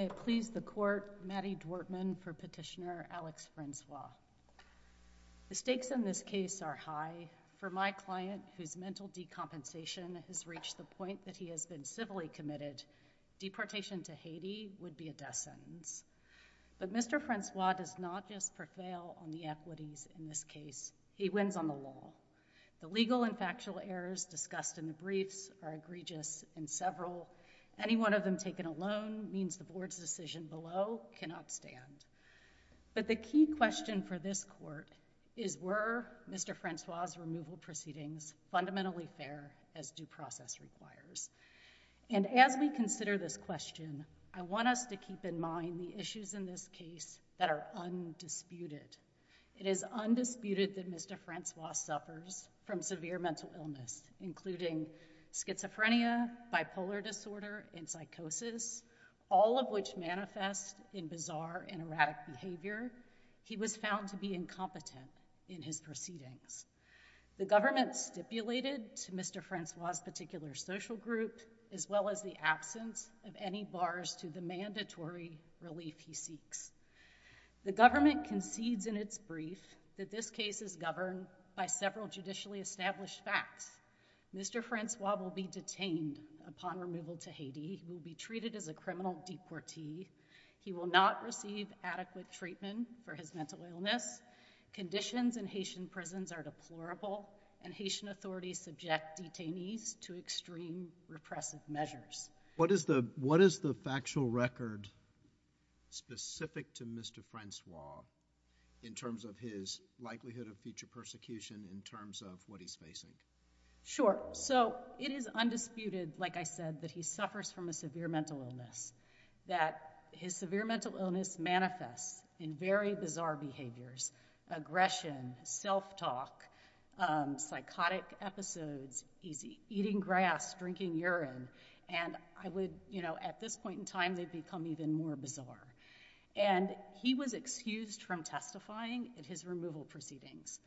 I please the court Maddy Dworkman for petitioner Alex Francois. The stakes in this case are high. For my client whose mental decompensation has reached the point that he has been civilly committed, deportation to Haiti would be a death sentence. But Mr. Francois does not just prevail on the equities in this case. He wins on the law. The legal and factual errors discussed in the briefs are the board's decision below cannot stand. But the key question for this court is were Mr. Francois removal proceedings fundamentally fair as due process requires? And as we consider this question I want us to keep in mind the issues in this case that are undisputed. It is undisputed that Mr. Francois suffers from severe mental illness including schizophrenia, bipolar disorder and psychosis, all of which manifest in bizarre and erratic behavior. He was found to be incompetent in his proceedings. The government stipulated to Mr. Francois particular social group as well as the absence of any bars to the mandatory relief he seeks. The government concedes in its brief that this case is governed by several judicially established facts. Mr. Francois will be detained upon removal to Haiti. He will be treated as a criminal deportee. He will not receive adequate treatment for his mental illness. Conditions in Haitian prisons are deplorable and Haitian authorities subject detainees to extreme repressive measures. What is the what is the factual record specific to Mr. Francois in terms of his likelihood of future facing? Sure so it is undisputed like I said that he suffers from a severe mental illness that his severe mental illness manifests in very bizarre behaviors, aggression, self-talk, psychotic episodes, he's eating grass, drinking urine and I would you know at this point in time they become even more bizarre and he was excused from testifying at his removal proceedings.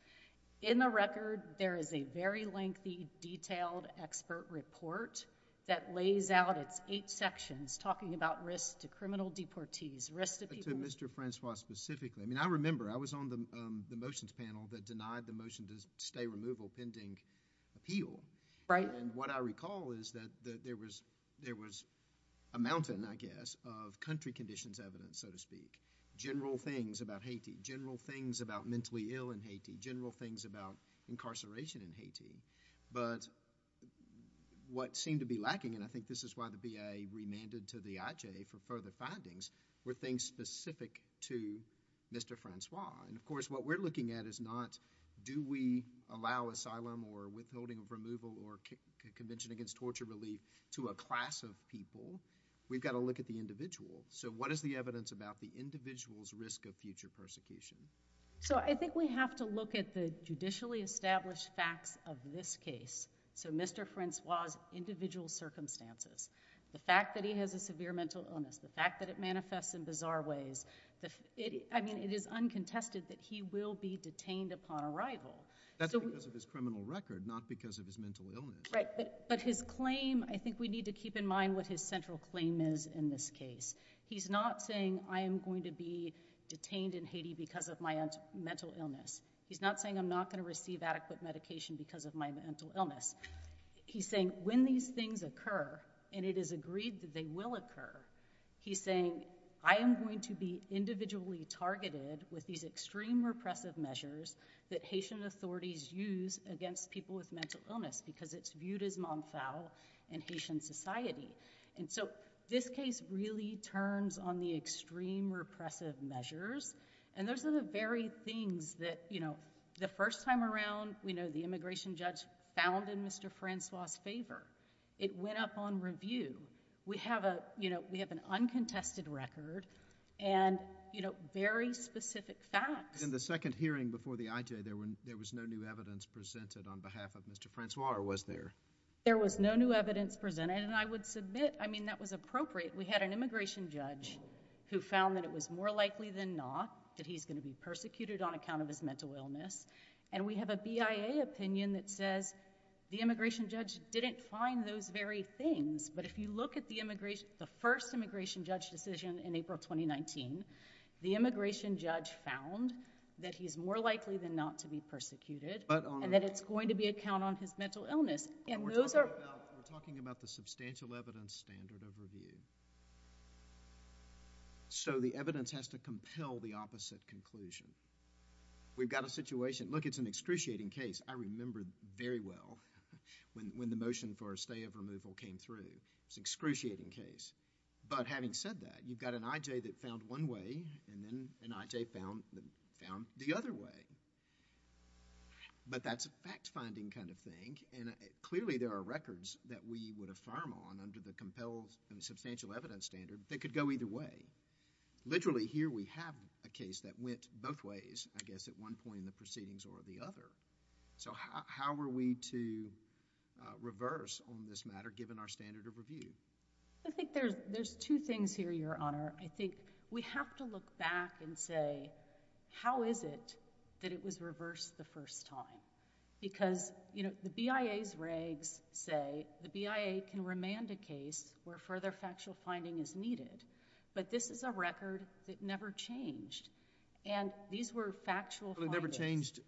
In the record there is a very lengthy detailed expert report that lays out its eight sections talking about risk to criminal deportees. Risk to people... To Mr. Francois specifically I mean I remember I was on the motions panel that denied the motion to stay removal pending appeal. Right. And what I recall is that there was there was a mountain I guess of country conditions evidence so to speak. General things about Haiti, general things about mentally ill in Haiti, general things about incarceration in Haiti but what seemed to be lacking and I think this is why the VA remanded to the IJ for further findings were things specific to Mr. Francois and of course what we're looking at is not do we allow asylum or withholding of removal or Convention Against Torture Relief to a class of people. We've got to look at the individual. So what is the evidence about the individual's risk of future persecution? So I think we have to look at the judicially established facts of this case. So Mr. Francois's individual circumstances, the fact that he has a severe mental illness, the fact that it manifests in bizarre ways. I mean it is uncontested that he will be detained upon arrival. That's because of his criminal record not because of his mental illness. Right but his claim I think we need to keep in mind what his central claim is in this case. He's not saying I am going to be detained in He's not saying I'm not going to receive adequate medication because of my mental illness. He's saying when these things occur and it is agreed that they will occur, he's saying I am going to be individually targeted with these extreme repressive measures that Haitian authorities use against people with mental illness because it's viewed as Montfau in Haitian society. And so this case really turns on the extreme repressive measures and those are the very things that, you know, the first time around we know the immigration judge found in Mr. Francois's favor. It went up on review. We have a, you know, we have an uncontested record and, you know, very specific facts. In the second hearing before the IJ there was no new evidence presented on behalf of Mr. Francois or was there? There was no new evidence presented and I would submit, I mean that was appropriate. We had an immigration judge who found that it was more likely than not that he's going to be persecuted on account of his mental illness and we have a BIA opinion that says the immigration judge didn't find those very things, but if you look at the immigration, the first immigration judge decision in April 2019, the immigration judge found that he's more likely than not to be persecuted and that it's going to be a count on his mental illness and those are... We're talking about the substantial evidence standard of review. So the evidence has to compel the opposite conclusion. We've got a situation... Look, it's an excruciating case. I remember very well when the motion for a stay of removal came through. It's an excruciating case, but having said that, you've got an IJ that found one way and then an IJ found the other way, but that's a fact-finding kind of thing and clearly there are records that we would affirm on under the compelled and substantial evidence standard that could go either way. Literally, here we have a case that went both ways, I guess, at one point in the proceedings or the other. So how are we to reverse on this matter given our standard of review? I think there's two things here, Your Honor. I think we have to look back and say how is it that it was reversed the first time because the BIA's regs say that the BIA can remand a case where further factual finding is needed, but this is a record that never changed and these were factual findings. It never changed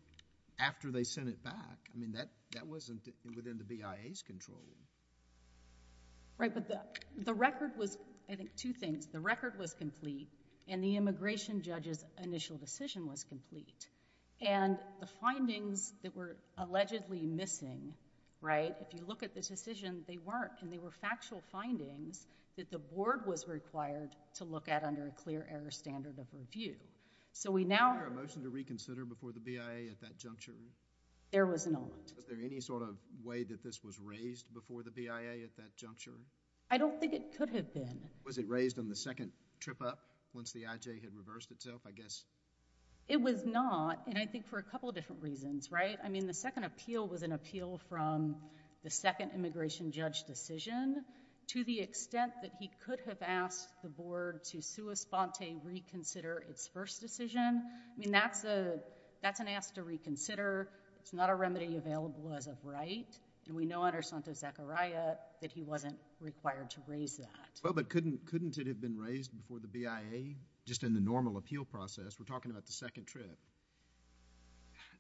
after they sent it back. I mean, that wasn't within the BIA's control. Right, but the record was... I think two things. The record was complete and the immigration judge's initial decision was complete and the findings that were allegedly missing, right, if you look at this decision, they weren't and they were factual findings that the board was required to look at under a clear error standard of review. So we now... Was there a motion to reconsider before the BIA at that juncture? There was not. Was there any sort of way that this was raised before the BIA at that juncture? I don't think it could have been. Was it raised on the second trip up once the IJ had reversed itself, I guess? It was not and I think for a couple of different reasons, right. I mean, the second appeal was an appeal from the second immigration judge decision to the extent that he could have asked the board to sua sponte reconsider its first decision. I mean, that's an ask to reconsider. It's not a remedy available as of right and we know under Santo Zachariah that he wasn't required to raise that. Well, but couldn't it have been raised before the BIA just in the normal appeal process? We're talking about the second trip.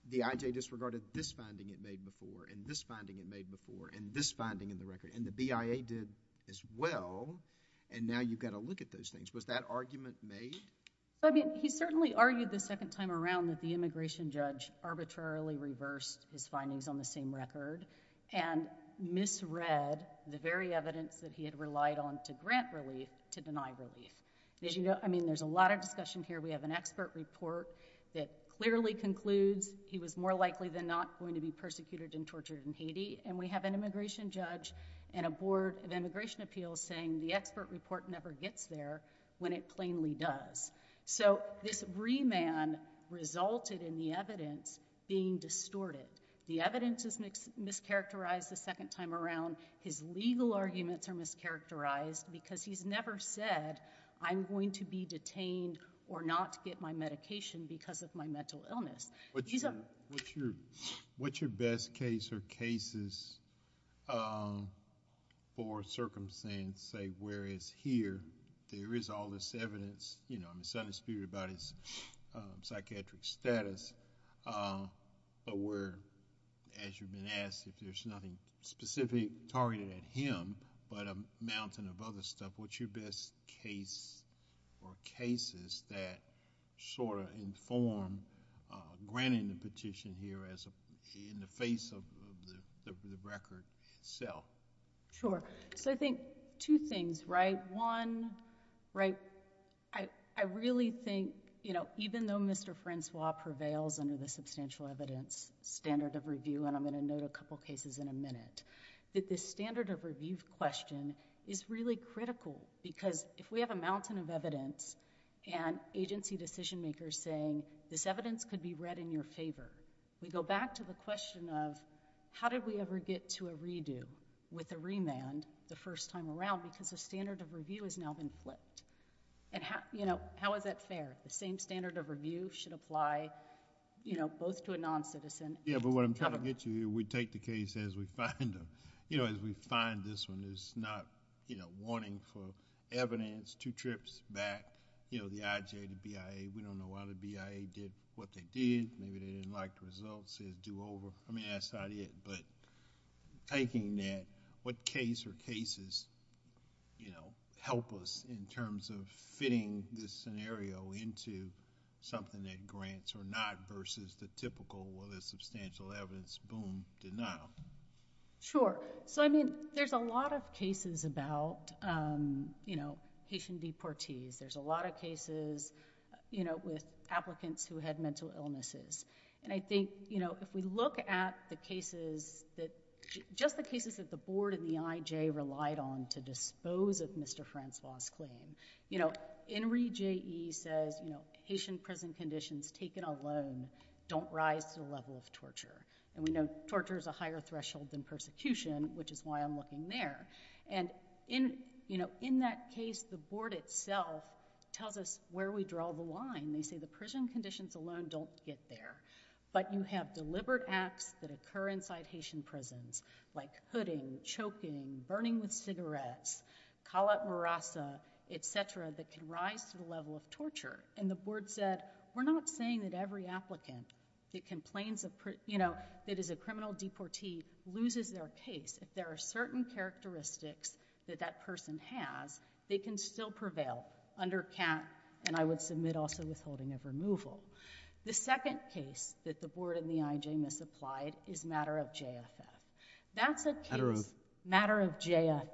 The IJ disregarded this finding it made before and this finding it made before and this finding in the record and the BIA did as well and now you've got to look at those things. Was that argument made? I mean, he certainly argued the second time around that the immigration judge arbitrarily reversed his findings on the same record and misread the very evidence that he had relied on to grant relief to deny relief. As you can see, there's a lot of discussion here. We have an expert report that clearly concludes he was more likely than not going to be persecuted and tortured in Haiti and we have an immigration judge and a board of immigration appeals saying the expert report never gets there when it plainly does. So, this remand resulted in the evidence being distorted. The evidence is mischaracterized the second time around. His legal arguments are or not to get my medication because of my mental illness. What's your best case or cases for circumstance say where is here? There is all this evidence, you know, I'm just trying to speak about his psychiatric status but where as you've been asked if there's nothing specific targeted at him but a mountain of other stuff, what's your best case or cases that sort of inform granting the petition here in the face of the record itself? Sure. So, I think two things, right? One, right, I really think, you know, even though Mr. Francois prevails under the substantial evidence standard of review and I'm going to note a couple of cases in a minute, that this standard of review question is really critical because if we have a mountain of evidence and agency decision makers saying this evidence could be read in your favor, we go back to the question of how did we ever get to a redo with a remand the first time around because the standard of review has now been flipped. And, you know, how is that fair? The same standard of review should be followed. Yeah, but what I'm trying to get to here, we take the case as we find them. You know, as we find this one, there's not, you know, wanting for evidence, two trips back, you know, the IJ, the BIA, we don't know why the BIA did what they did, maybe they didn't like the results, says do over. I mean, that's not it, but taking that, what case or cases, you know, help us in terms of fitting this scenario into something that grants or not versus the more, you know, substantial evidence, boom, denial. Sure. So, I mean, there's a lot of cases about you know, Haitian deportees, there's a lot of cases, you know, with applicants who had mental illnesses. And I think, you know, if we look at the cases that, just the cases that the board and the IJ relied on to dispose of Mr. Francois' claim, you know, Enrique J. E says, you know, Haitian prison conditions taken alone don't rise to the level of torture. And we know torture is a higher threshold than persecution, which is why I'm looking there. And in, you know, in that case, the board itself tells us where we draw the line. They say the prison conditions alone don't get there, but you have deliberate acts that occur inside Haitian prisons, like hooding, choking, burning with cigarettes, calat morasa, etc., that can rise to the level of torture. And the board said, we're not saying that every applicant that complains of, you know, that is a criminal deportee loses their case. If there are certain characteristics that that person has, they can still prevail under CAP, and I would submit also withholding of removal. The second case that the board and the IJ misapplied is matter of JFF. That's a case... Matter of... Matter of JFF.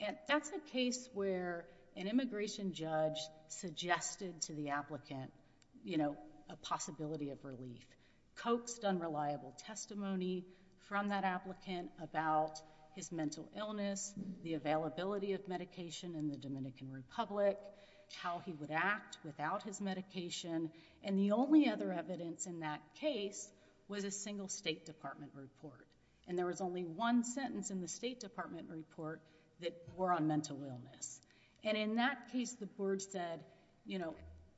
And that's a case where an immigration judge suggested to the applicant, you know, a possibility of relief, coaxed unreliable testimony from that applicant about his mental illness, the availability of medication in the Dominican Republic, how he would act without his medication. And the only other evidence in that case was a single State Department report. And there was only one sentence in the State Department report that were on it, and it said, you know,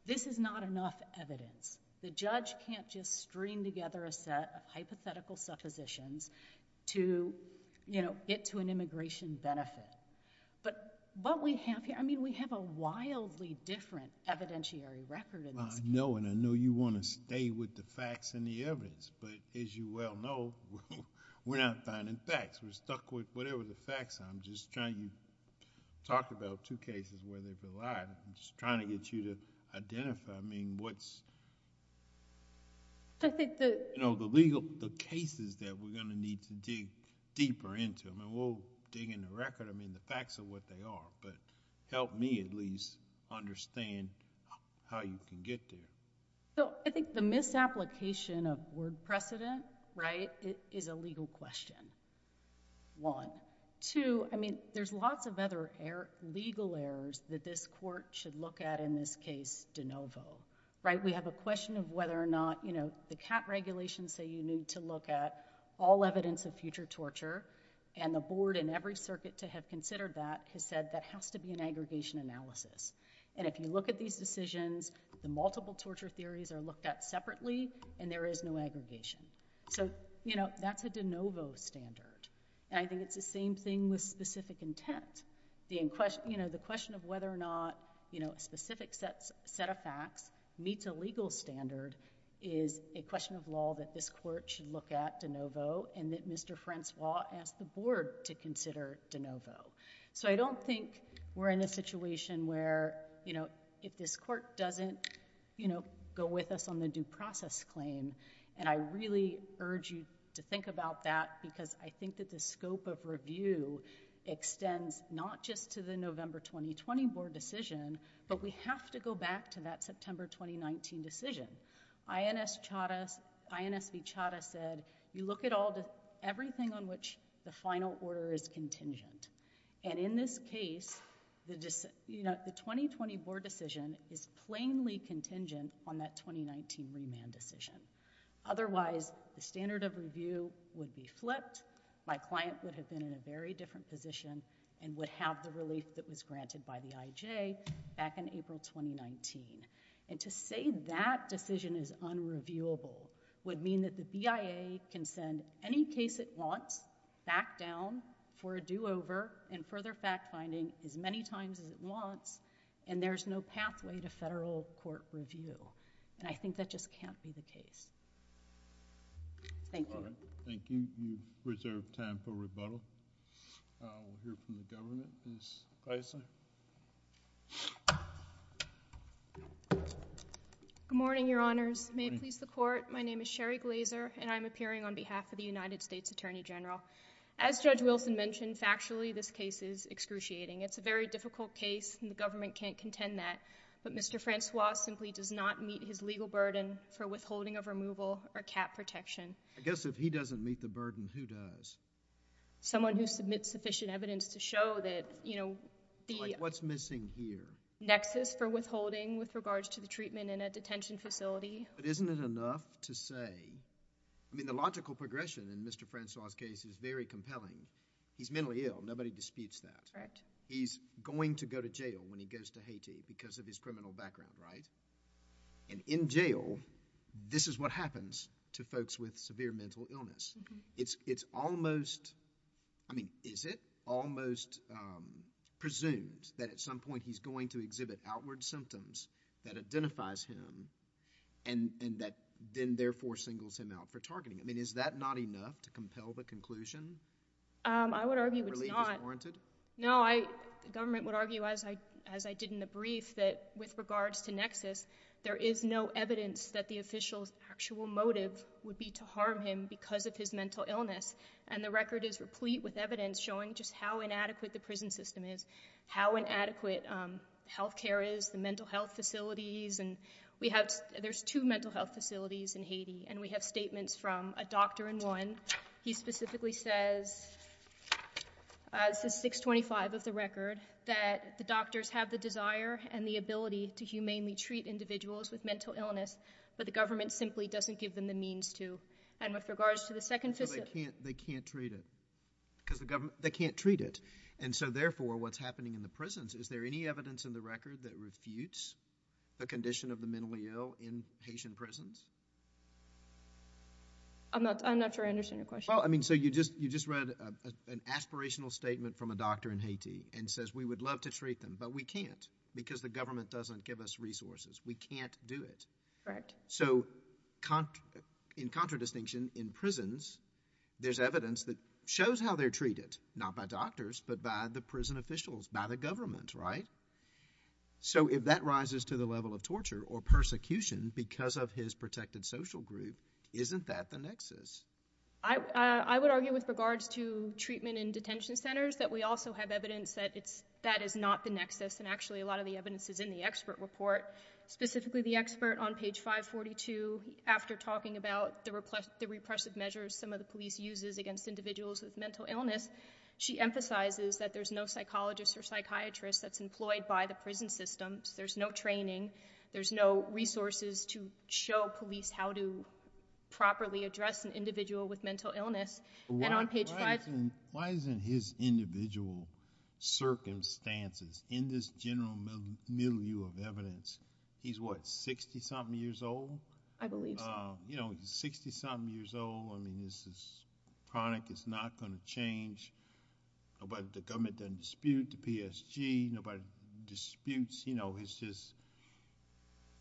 this is not enough evidence. The judge can't just string together a set of hypothetical suppositions to, you know, get to an immigration benefit. But what we have here... I mean, we have a wildly different evidentiary record in this case. I know, and I know you want to stay with the facts and the evidence, but as you well know, we're not finding facts. We're stuck with whatever the facts are. I'm just trying... you talked about two cases where they've been lied. I'm just trying to get you to identify, I mean, what's... I think the... You know, the legal... the cases that we're going to need to dig deeper into. I mean, we'll dig in the record. I mean, the facts are what they are, but help me at least understand how you can get there. So, I think the misapplication of word precedent, right, is a legal question, one. Two, I mean, there's lots of other legal errors that this Court should look at in this case de novo, right? We have a question of whether or not, you know, the CAT regulations say you need to look at all evidence of future torture, and the Board in every circuit to have considered that has said that has to be an aggregation analysis. And if you look at these decisions, the multiple torture theories are looked at separately, and there is no aggregation. So, you know, that's a de novo standard, and I think it's the same thing with specific intent. The question of whether or not, you know, a specific set of facts meets a legal standard is a question of law that this Court should look at de novo, and that Mr. Francois asked the Board to consider de novo. So I don't think we're in a situation where, you know, if this Court doesn't, you know, go with us on the due process claim, and I really urge you to think about that because I think that the scope of review extends not just to the November 2020 Board decision, but we have to go back to that September 2019 decision. INS V. Chadha said, you look at everything on which the final order is contingent, and in this case, you know, the 2020 Board decision is plainly contingent on that 2019 remand decision. Otherwise, the standard of review would be flipped. My client would have been in a very different position and would have the relief that was granted by the IJ back in April 2019. And to say that decision is unreviewable would mean that the BIA can send any case it wants back down for a do-over and further fact-finding as many times as it wants, and there's no pathway to federal court review. And I think that just can't be the case. Thank you. Thank you. We reserve time for rebuttal. We'll hear from the Governor, Ms. Gleiser. Good morning, Your Honors. May it please the Court, my name is Sherry Gleiser, and I'm appearing on behalf of the United States Attorney General. As Judge Wilson mentioned, factually this case is excruciating. It's a very difficult case and the government can't contend that, but Mr. Francois simply does not meet his legal burden for withholding of removal or cap protection. I guess if he doesn't meet the burden, who does? Someone who submits sufficient evidence to show that, you know, the... Like what's missing here? Nexus for withholding with regards to the treatment in a detention facility. But isn't it enough to say... I mean, the disputes that. He's going to go to jail when he goes to Haiti because of his criminal background, right? And in jail, this is what happens to folks with severe mental illness. It's almost... I mean, is it almost presumed that at some point he's going to exhibit outward symptoms that identifies him and that then therefore singles him out for targeting? I mean, is that not enough to say? No, I would argue it's not. Relief is warranted? No, I... the government would argue, as I did in the brief, that with regards to Nexus, there is no evidence that the official's actual motive would be to harm him because of his mental illness. And the record is replete with evidence showing just how inadequate the prison system is, how inadequate health care is, the mental health facilities. And we have... there's two mental health facilities in Haiti and we have statements from a doctor in one. He specifically says, this is 625 of the record, that the doctors have the desire and the ability to humanely treat individuals with mental illness, but the government simply doesn't give them the means to. And with regards to the second... They can't treat it because the government... they can't treat it. And so therefore, what's happening in the prisons, is there any evidence in the record that refutes the condition of the doctor? I'm not... I'm not sure I understand your question. Well, I mean, so you just... you just read an aspirational statement from a doctor in Haiti and says, we would love to treat them, but we can't because the government doesn't give us resources. We can't do it. Correct. So, in contradistinction, in prisons, there's evidence that shows how they're treated, not by doctors, but by the prison officials, by the government, right? So, if that rises to the level of torture or persecution because of his protected social group, isn't that the nexus? I would argue, with regards to treatment in detention centers, that we also have evidence that it's... that is not the nexus. And actually, a lot of the evidence is in the expert report, specifically the expert on page 542, after talking about the repressive measures some of the police uses against individuals with mental illness. She emphasizes that there's no psychologist or psychiatrist that's employed by the police how to properly address an individual with mental illness. And on page 5... Why isn't his individual circumstances, in this general middle view of evidence, he's what, 60-something years old? I believe so. You know, 60-something years old. I mean, this is chronic. It's not going to change. Nobody... the government doesn't dispute the PSG. Nobody disputes, you know, it's just,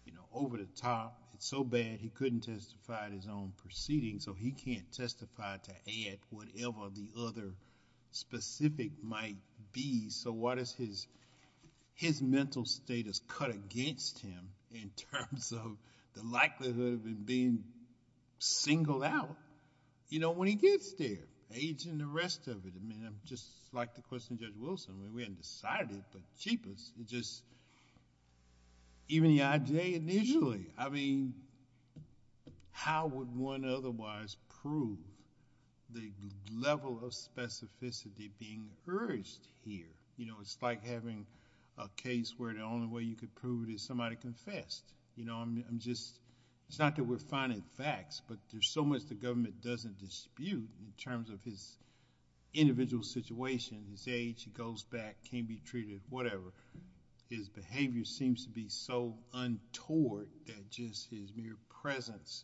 you know, over the top. It's so bad, he couldn't testify at his own proceeding, so he can't testify to add whatever the other specific might be. So, why does his... his mental status cut against him in terms of the likelihood of it being singled out, you know, when he gets there? Age and the rest of it. I mean, just like the question of cheapest, it just... even the IJ initially. I mean, how would one otherwise prove the level of specificity being urged here? You know, it's like having a case where the only way you could prove it is somebody confessed. You know, I'm just... it's not that we're finding facts, but there's so much the government doesn't dispute in terms of his individual situation, his age, he goes back, can't be treated, whatever. His behavior seems to be so untoward that just his mere presence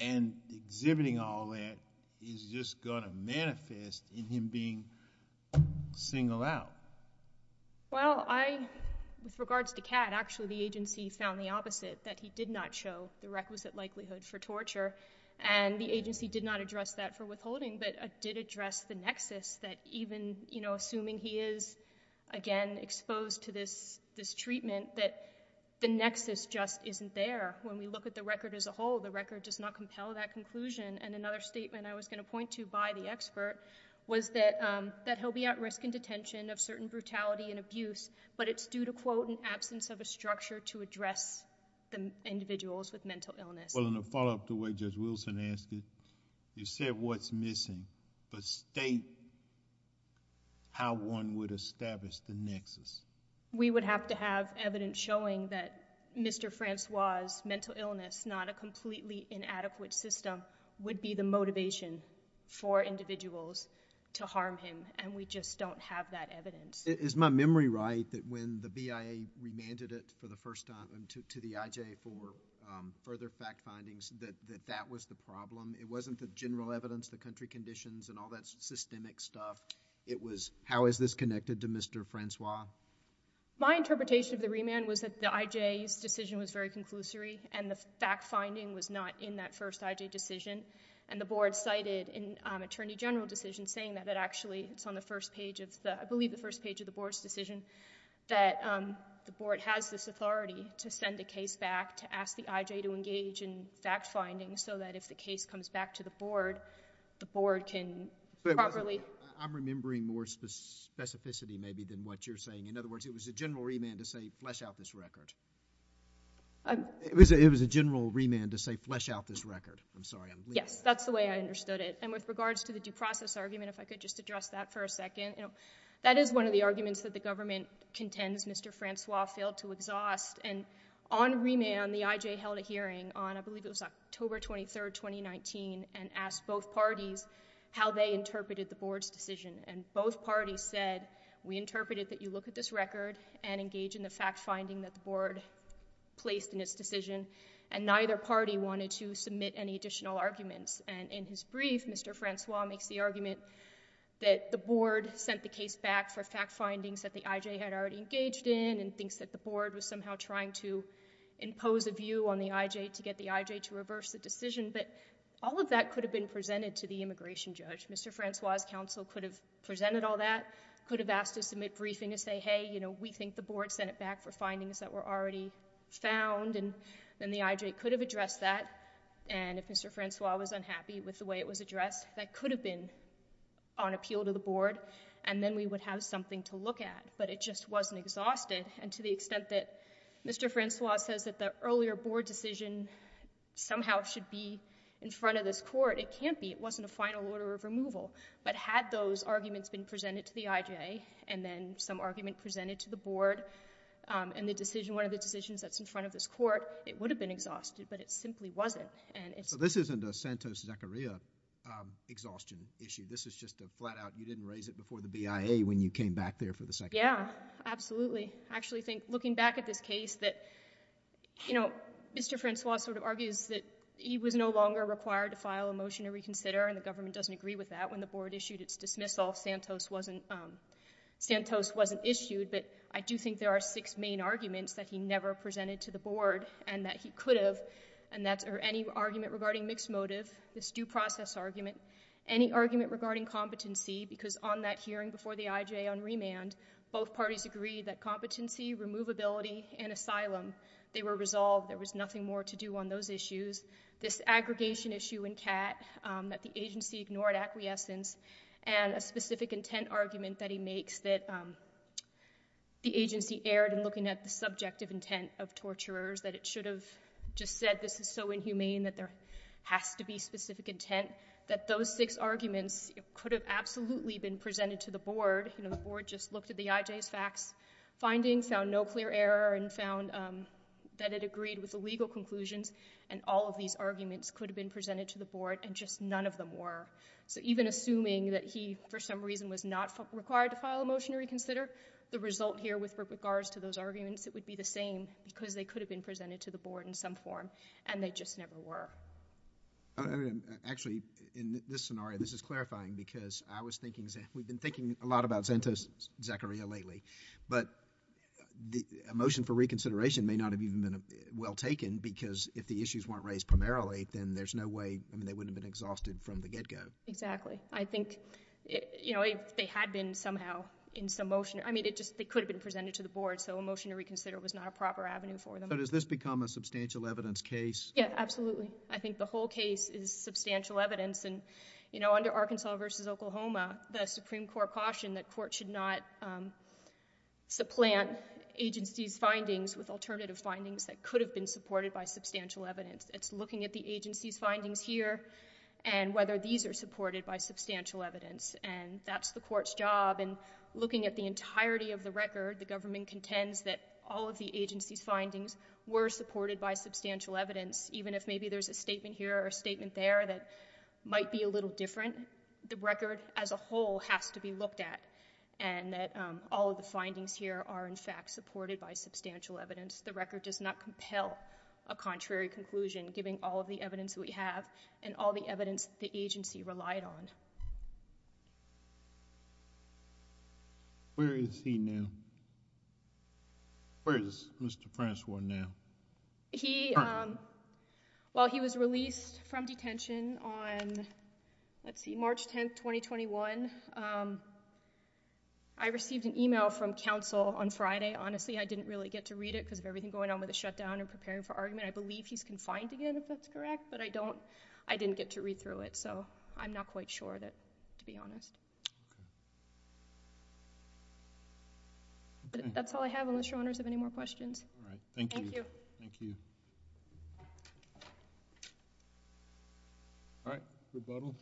and exhibiting all that is just gonna manifest in him being singled out. Well, I... with regards to Catt, actually the agency found the opposite, that he did not show the requisite likelihood for torture, and the agency did not address that for withholding, but did address the nexus that even, you know, assuming he is, again, exposed to this treatment, that the nexus just isn't there. When we look at the record as a whole, the record does not compel that conclusion, and another statement I was going to point to by the expert was that he'll be at risk in detention of certain brutality and abuse, but it's due to, quote, an absence of a structure to address the individuals with mental illness. Well, in a follow-up to what Judge Wilson asked, you said what's missing, but state how one would establish the nexus. We would have to have evidence showing that Mr. Francois's mental illness, not a completely inadequate system, would be the motivation for individuals to harm him, and we just don't have that evidence. Is my memory right that when the BIA remanded it for the first time to the IJ for further fact findings, that that was the problem? It wasn't the general evidence, the country conditions, and all that systemic stuff. It was how is this connected to Mr. Francois? My interpretation of the remand was that the IJ's decision was very conclusory, and the fact finding was not in that first IJ decision, and the Board cited in Attorney General decision saying that it actually, it's on the first page of the, I believe the first page of the Board's decision, that the Board has this opportunity for the IJ to engage in fact finding, so that if the case comes back to the Board, the Board can properly... I'm remembering more specificity maybe than what you're saying. In other words, it was a general remand to say flesh out this record. It was a general remand to say flesh out this record. I'm sorry. Yes, that's the way I understood it, and with regards to the due process argument, if I could just address that for a second. That is one of the arguments that the government contends Mr. Francois failed to exhaust, and on remand, the IJ held a hearing on, I believe it was October 23rd, 2019, and asked both parties how they interpreted the Board's decision, and both parties said, we interpreted that you look at this record and engage in the fact finding that the Board placed in its decision, and neither party wanted to submit any additional arguments, and in his brief, Mr. Francois makes the argument that the Board sent the case back for fact finding, that the Board was somehow trying to impose a view on the IJ to get the IJ to reverse the decision, but all of that could have been presented to the immigration judge. Mr. Francois' counsel could have presented all that, could have asked to submit briefing to say, hey, we think the Board sent it back for findings that were already found, and then the IJ could have addressed that, and if Mr. Francois was unhappy with the way it was addressed, that could have been on appeal to the Board, and then we would have something to look at, but it just wasn't exhausted, and to the extent that Mr. Francois says that the earlier Board decision somehow should be in front of this Court, it can't be. It wasn't a final order of removal, but had those arguments been presented to the IJ, and then some argument presented to the Board, and the decision, one of the decisions that's in front of this Court, it would have been exhausted, but it simply wasn't. And it's... So this isn't a Santos-Zecaria exhaustion issue. This is just a flat out, you didn't raise it before the BIA when you came back here for the second time. Yeah. Absolutely. I actually think, looking back at this case, that, you know, Mr. Francois sort of argues that he was no longer required to file a motion to reconsider, and the Government doesn't agree with that. When the Board issued its dismissal, Santos wasn't issued, but I do think there are six main arguments that he never presented to the Board, and that he could have, and that's any argument regarding mixed motive, this due process argument, any argument regarding competency, because on that hearing before the IJ on remand, both parties agreed that competency, removability, and asylum, they were resolved. There was nothing more to do on those issues. This aggregation issue in CAT that the agency ignored acquiescence, and a specific intent argument that he makes that the agency erred in looking at the subjective intent of torturers, that it should have just said this is so inhumane that there has to be specific intent, that those six arguments could have absolutely been presented to the Board, you know, the Board just looked at the IJ's facts finding, found no clear error, and found that it agreed with the legal conclusions, and all of these arguments could have been presented to the Board, and just none of them were. So even assuming that he, for some reason, was not required to file a motion to reconsider, the result here with regards to those arguments, it would be the same, because they could have been presented to the Board in some form, and they just never were. Actually, in this scenario, this is clarifying, because I was thinking, we've been thinking a lot about Zanta's Zachariah lately, but a motion for reconsideration may not have even been well taken, because if the issues weren't raised primarily, then there's no way, I mean, they wouldn't have been exhausted from the get-go. Exactly. I think, you know, if they had been somehow in some motion, I mean, it just, they could have been presented to the Board, so a motion to reconsider was not a proper avenue for them. So does this become a substantial evidence case? Yeah. Absolutely. I think the whole case is substantial evidence, and, you know, under Arkansas v. Oklahoma, the Supreme Court cautioned that court should not supplant agencies' findings with alternative findings that could have been supported by substantial evidence. It's looking at the agency's findings here, and whether these are supported by substantial evidence, and that's the Court's job, and looking at the entirety of the record, the government contends that all of the agency's findings were supported by substantial evidence, even if maybe there's a statement here or a statement there that might be a little different, the record as a whole has to be looked at, and that all of the findings here are, in fact, supported by substantial evidence. The record does not compel a contrary conclusion, given all of the evidence that we have, and all the evidence that the agency relied on. Where is he now? Where is Mr. Francois now? He, well, he was released from detention on, let's see, March 10th, 2021. I received an email from counsel on Friday, honestly, I didn't really get to read it because of everything going on with the shutdown and preparing for argument. I believe he's confined again, if that's correct, but I don't, I didn't get to read through it, so I'm not quite sure that, to be honest. That's all I have, unless your Honors have any more questions. All right. Thank you. Thank you. All right. Rebuttal.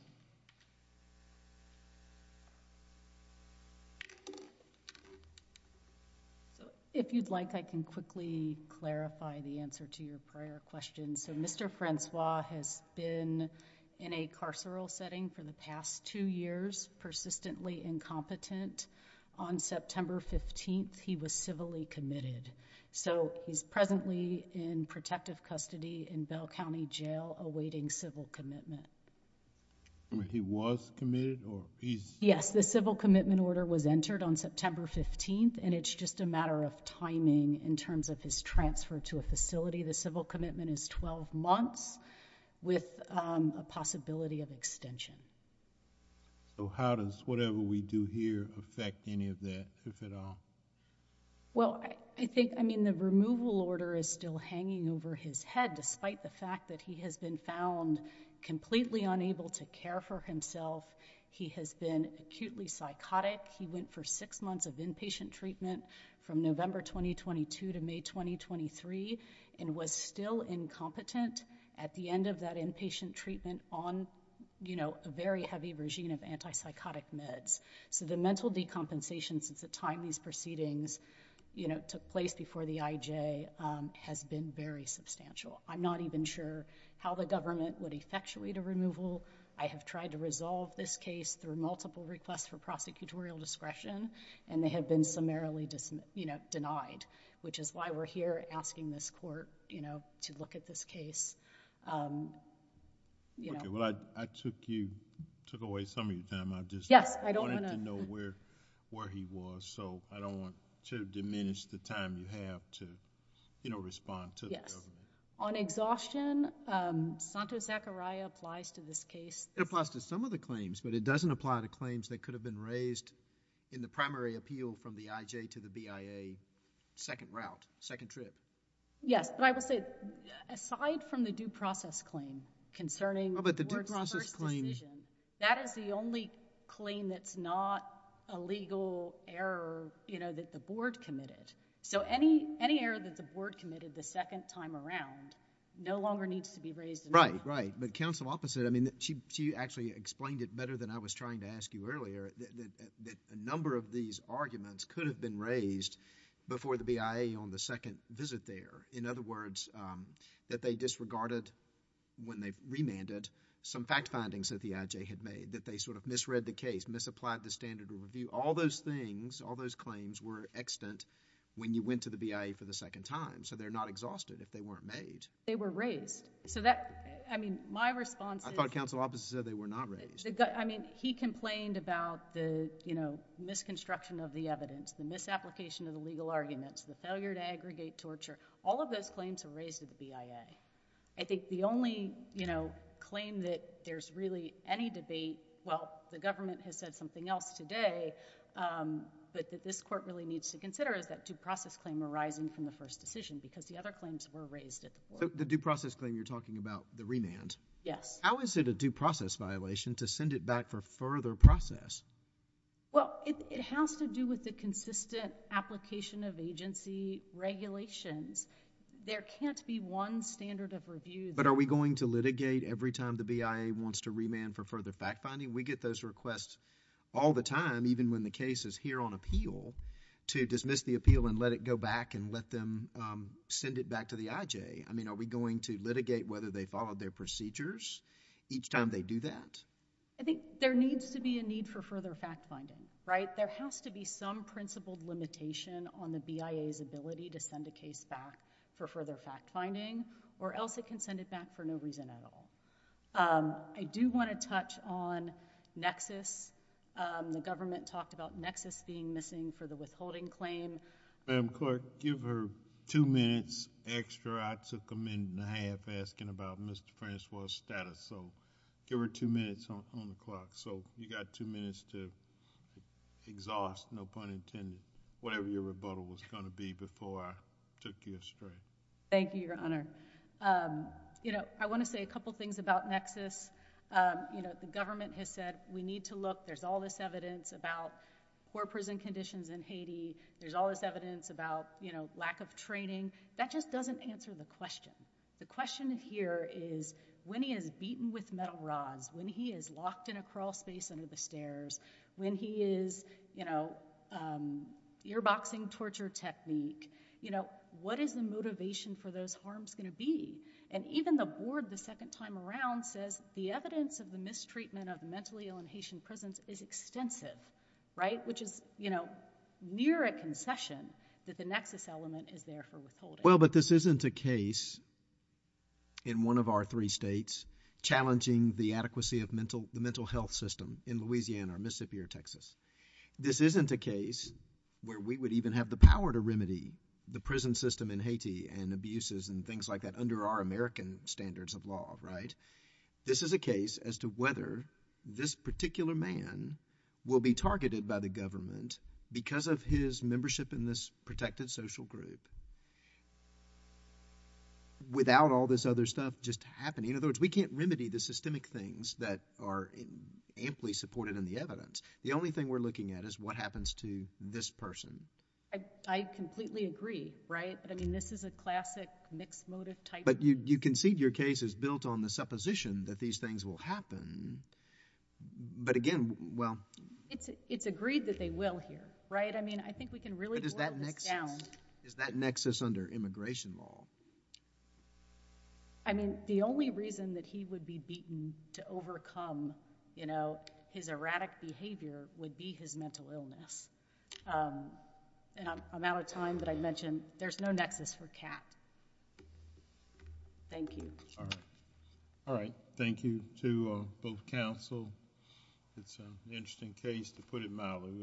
So, if you'd like, I can quickly clarify the answer to your prior question. So, Mr. Francois has been in a carceral setting for the past two years, persistently incompetent. On September 15th, he was civilly committed. So, he's presently in protective custody in Bell County Jail awaiting civil commitment. He was committed, or he's... Yes. The civil commitment order was entered on September 15th, and it's just a matter of timing in terms of his transfer to a facility. The civil commitment is 12 months with a possibility of extension. So, how does whatever we do here affect any of that, if at all? Well, I think... I mean, the removal order is still hanging over his head, despite the fact that he has been found completely unable to care for himself. He has been acutely psychotic. He went for six months of inpatient treatment from November 2022 to May 2023, and was still incompetent at the end of that inpatient treatment on, you know, a very heavy regime of antipsychotic meds. So, the mental decompensation since the time these proceedings, you know, took place before the IJ has been very substantial. I'm not even sure how the government would effectuate a removal. I have tried to resolve this case through multiple requests for prosecutorial discretion, and they have been summarily denied, which is why we're here asking this court, you know, to look at this case. Okay. Well, I took away some of your time. I've just... Yes. I wanted to know where he was, so I don't want to diminish the time you have to, you know, respond to the government. Yes. On exhaustion, Santo Zachariah applies to this case. It applies to some of the claims, but it doesn't apply to claims that could have been raised in the primary appeal from the IJ to the BIA second route, second trip. Yes, but I will say, aside from the due process claim concerning... Oh, but the due process claim... It's not a legal error, you know, that the board committed. So, any error that the board committed the second time around no longer needs to be raised in the trial. Right. Right. But counsel opposite, I mean, she actually explained it better than I was trying to ask you earlier, that a number of these arguments could have been raised before the BIA on the second visit there. In other words, that they disregarded when they remanded some fact findings that the IJ had made, that they sort of misread the case, misapplied the standard of review. All those things, all those claims were extant when you went to the BIA for the second time, so they're not exhausted if they weren't made. They were raised. So that, I mean, my response is... I thought counsel opposite said they were not raised. I mean, he complained about the, you know, misconstruction of the evidence, the misapplication of the legal arguments, the failure to aggregate torture. All of those claims were raised at the BIA. I think the only, you know, claim that there's really any debate, well, the government has said something else today, but that this court really needs to consider is that due process claim arising from the first decision because the other claims were raised at the court. The due process claim you're talking about, the remand. Yes. How is it a due process violation to send it back for further process? Well, it has to do with the consistent application of agency regulations. There can't be one standard of review that... But are we going to litigate every time the BIA wants to remand for further fact-finding? We get those requests all the time, even when the case is here on appeal, to dismiss the appeal and let it go back and let them send it back to the IJ. I mean, are we going to litigate whether they followed their procedures each time they do that? I think there needs to be a need for further fact-finding, right? There has to be some principled limitation on the BIA's ability to send a case back for further fact-finding, or else it can send it back for no reason at all. I do want to touch on nexus. The government talked about nexus being missing for the withholding claim. Madam Clerk, give her two minutes extra. I took a minute and a half asking about Mr. Francois's status, so give her two minutes on the clock. You got two minutes to exhaust, no pun intended, whatever your rebuttal was going to be before I took you astray. Thank you, Your Honor. I want to say a couple things about nexus. The government has said we need to look. There's all this evidence about poor prison conditions in Haiti. There's all this evidence about lack of training. That just doesn't answer the question. The question here is when he is beaten with metal rods, when he is locked in a crawlspace under the stairs, when he is ear-boxing torture technique, what is the motivation for those harms going to be? Even the board the second time around says the evidence of the mistreatment of mentally ill in Haitian prisons is extensive, which is near a concession that the nexus element is there for withholding. Well, but this isn't a case in one of our three states challenging the adequacy of the mental health system in Louisiana or Mississippi or Texas. This isn't a case where we would even have the power to remedy the prison system in Haiti and abuses and things like that under our American standards of law, right? This is a case as to whether this particular man will be targeted by the government because of his membership in this protected social group without all this other stuff just happening. In other words, we can't remedy the systemic things that are amply supported in the evidence. The only thing we're looking at is what happens to this person. I completely agree, right? But, I mean, this is a classic mixed motive type. But you concede your case is built on the supposition that these things will happen, but again, well. It's agreed that they will here, right? I mean, I think we can really boil this down. But is that nexus under immigration law? I mean, the only reason that he would be beaten to overcome his erratic behavior would be his mental illness. And I'm out of time, but I mentioned there's no nexus for CAT. Thank you. All right. Thank you to both counsel. It's an interesting case, to put it mildly.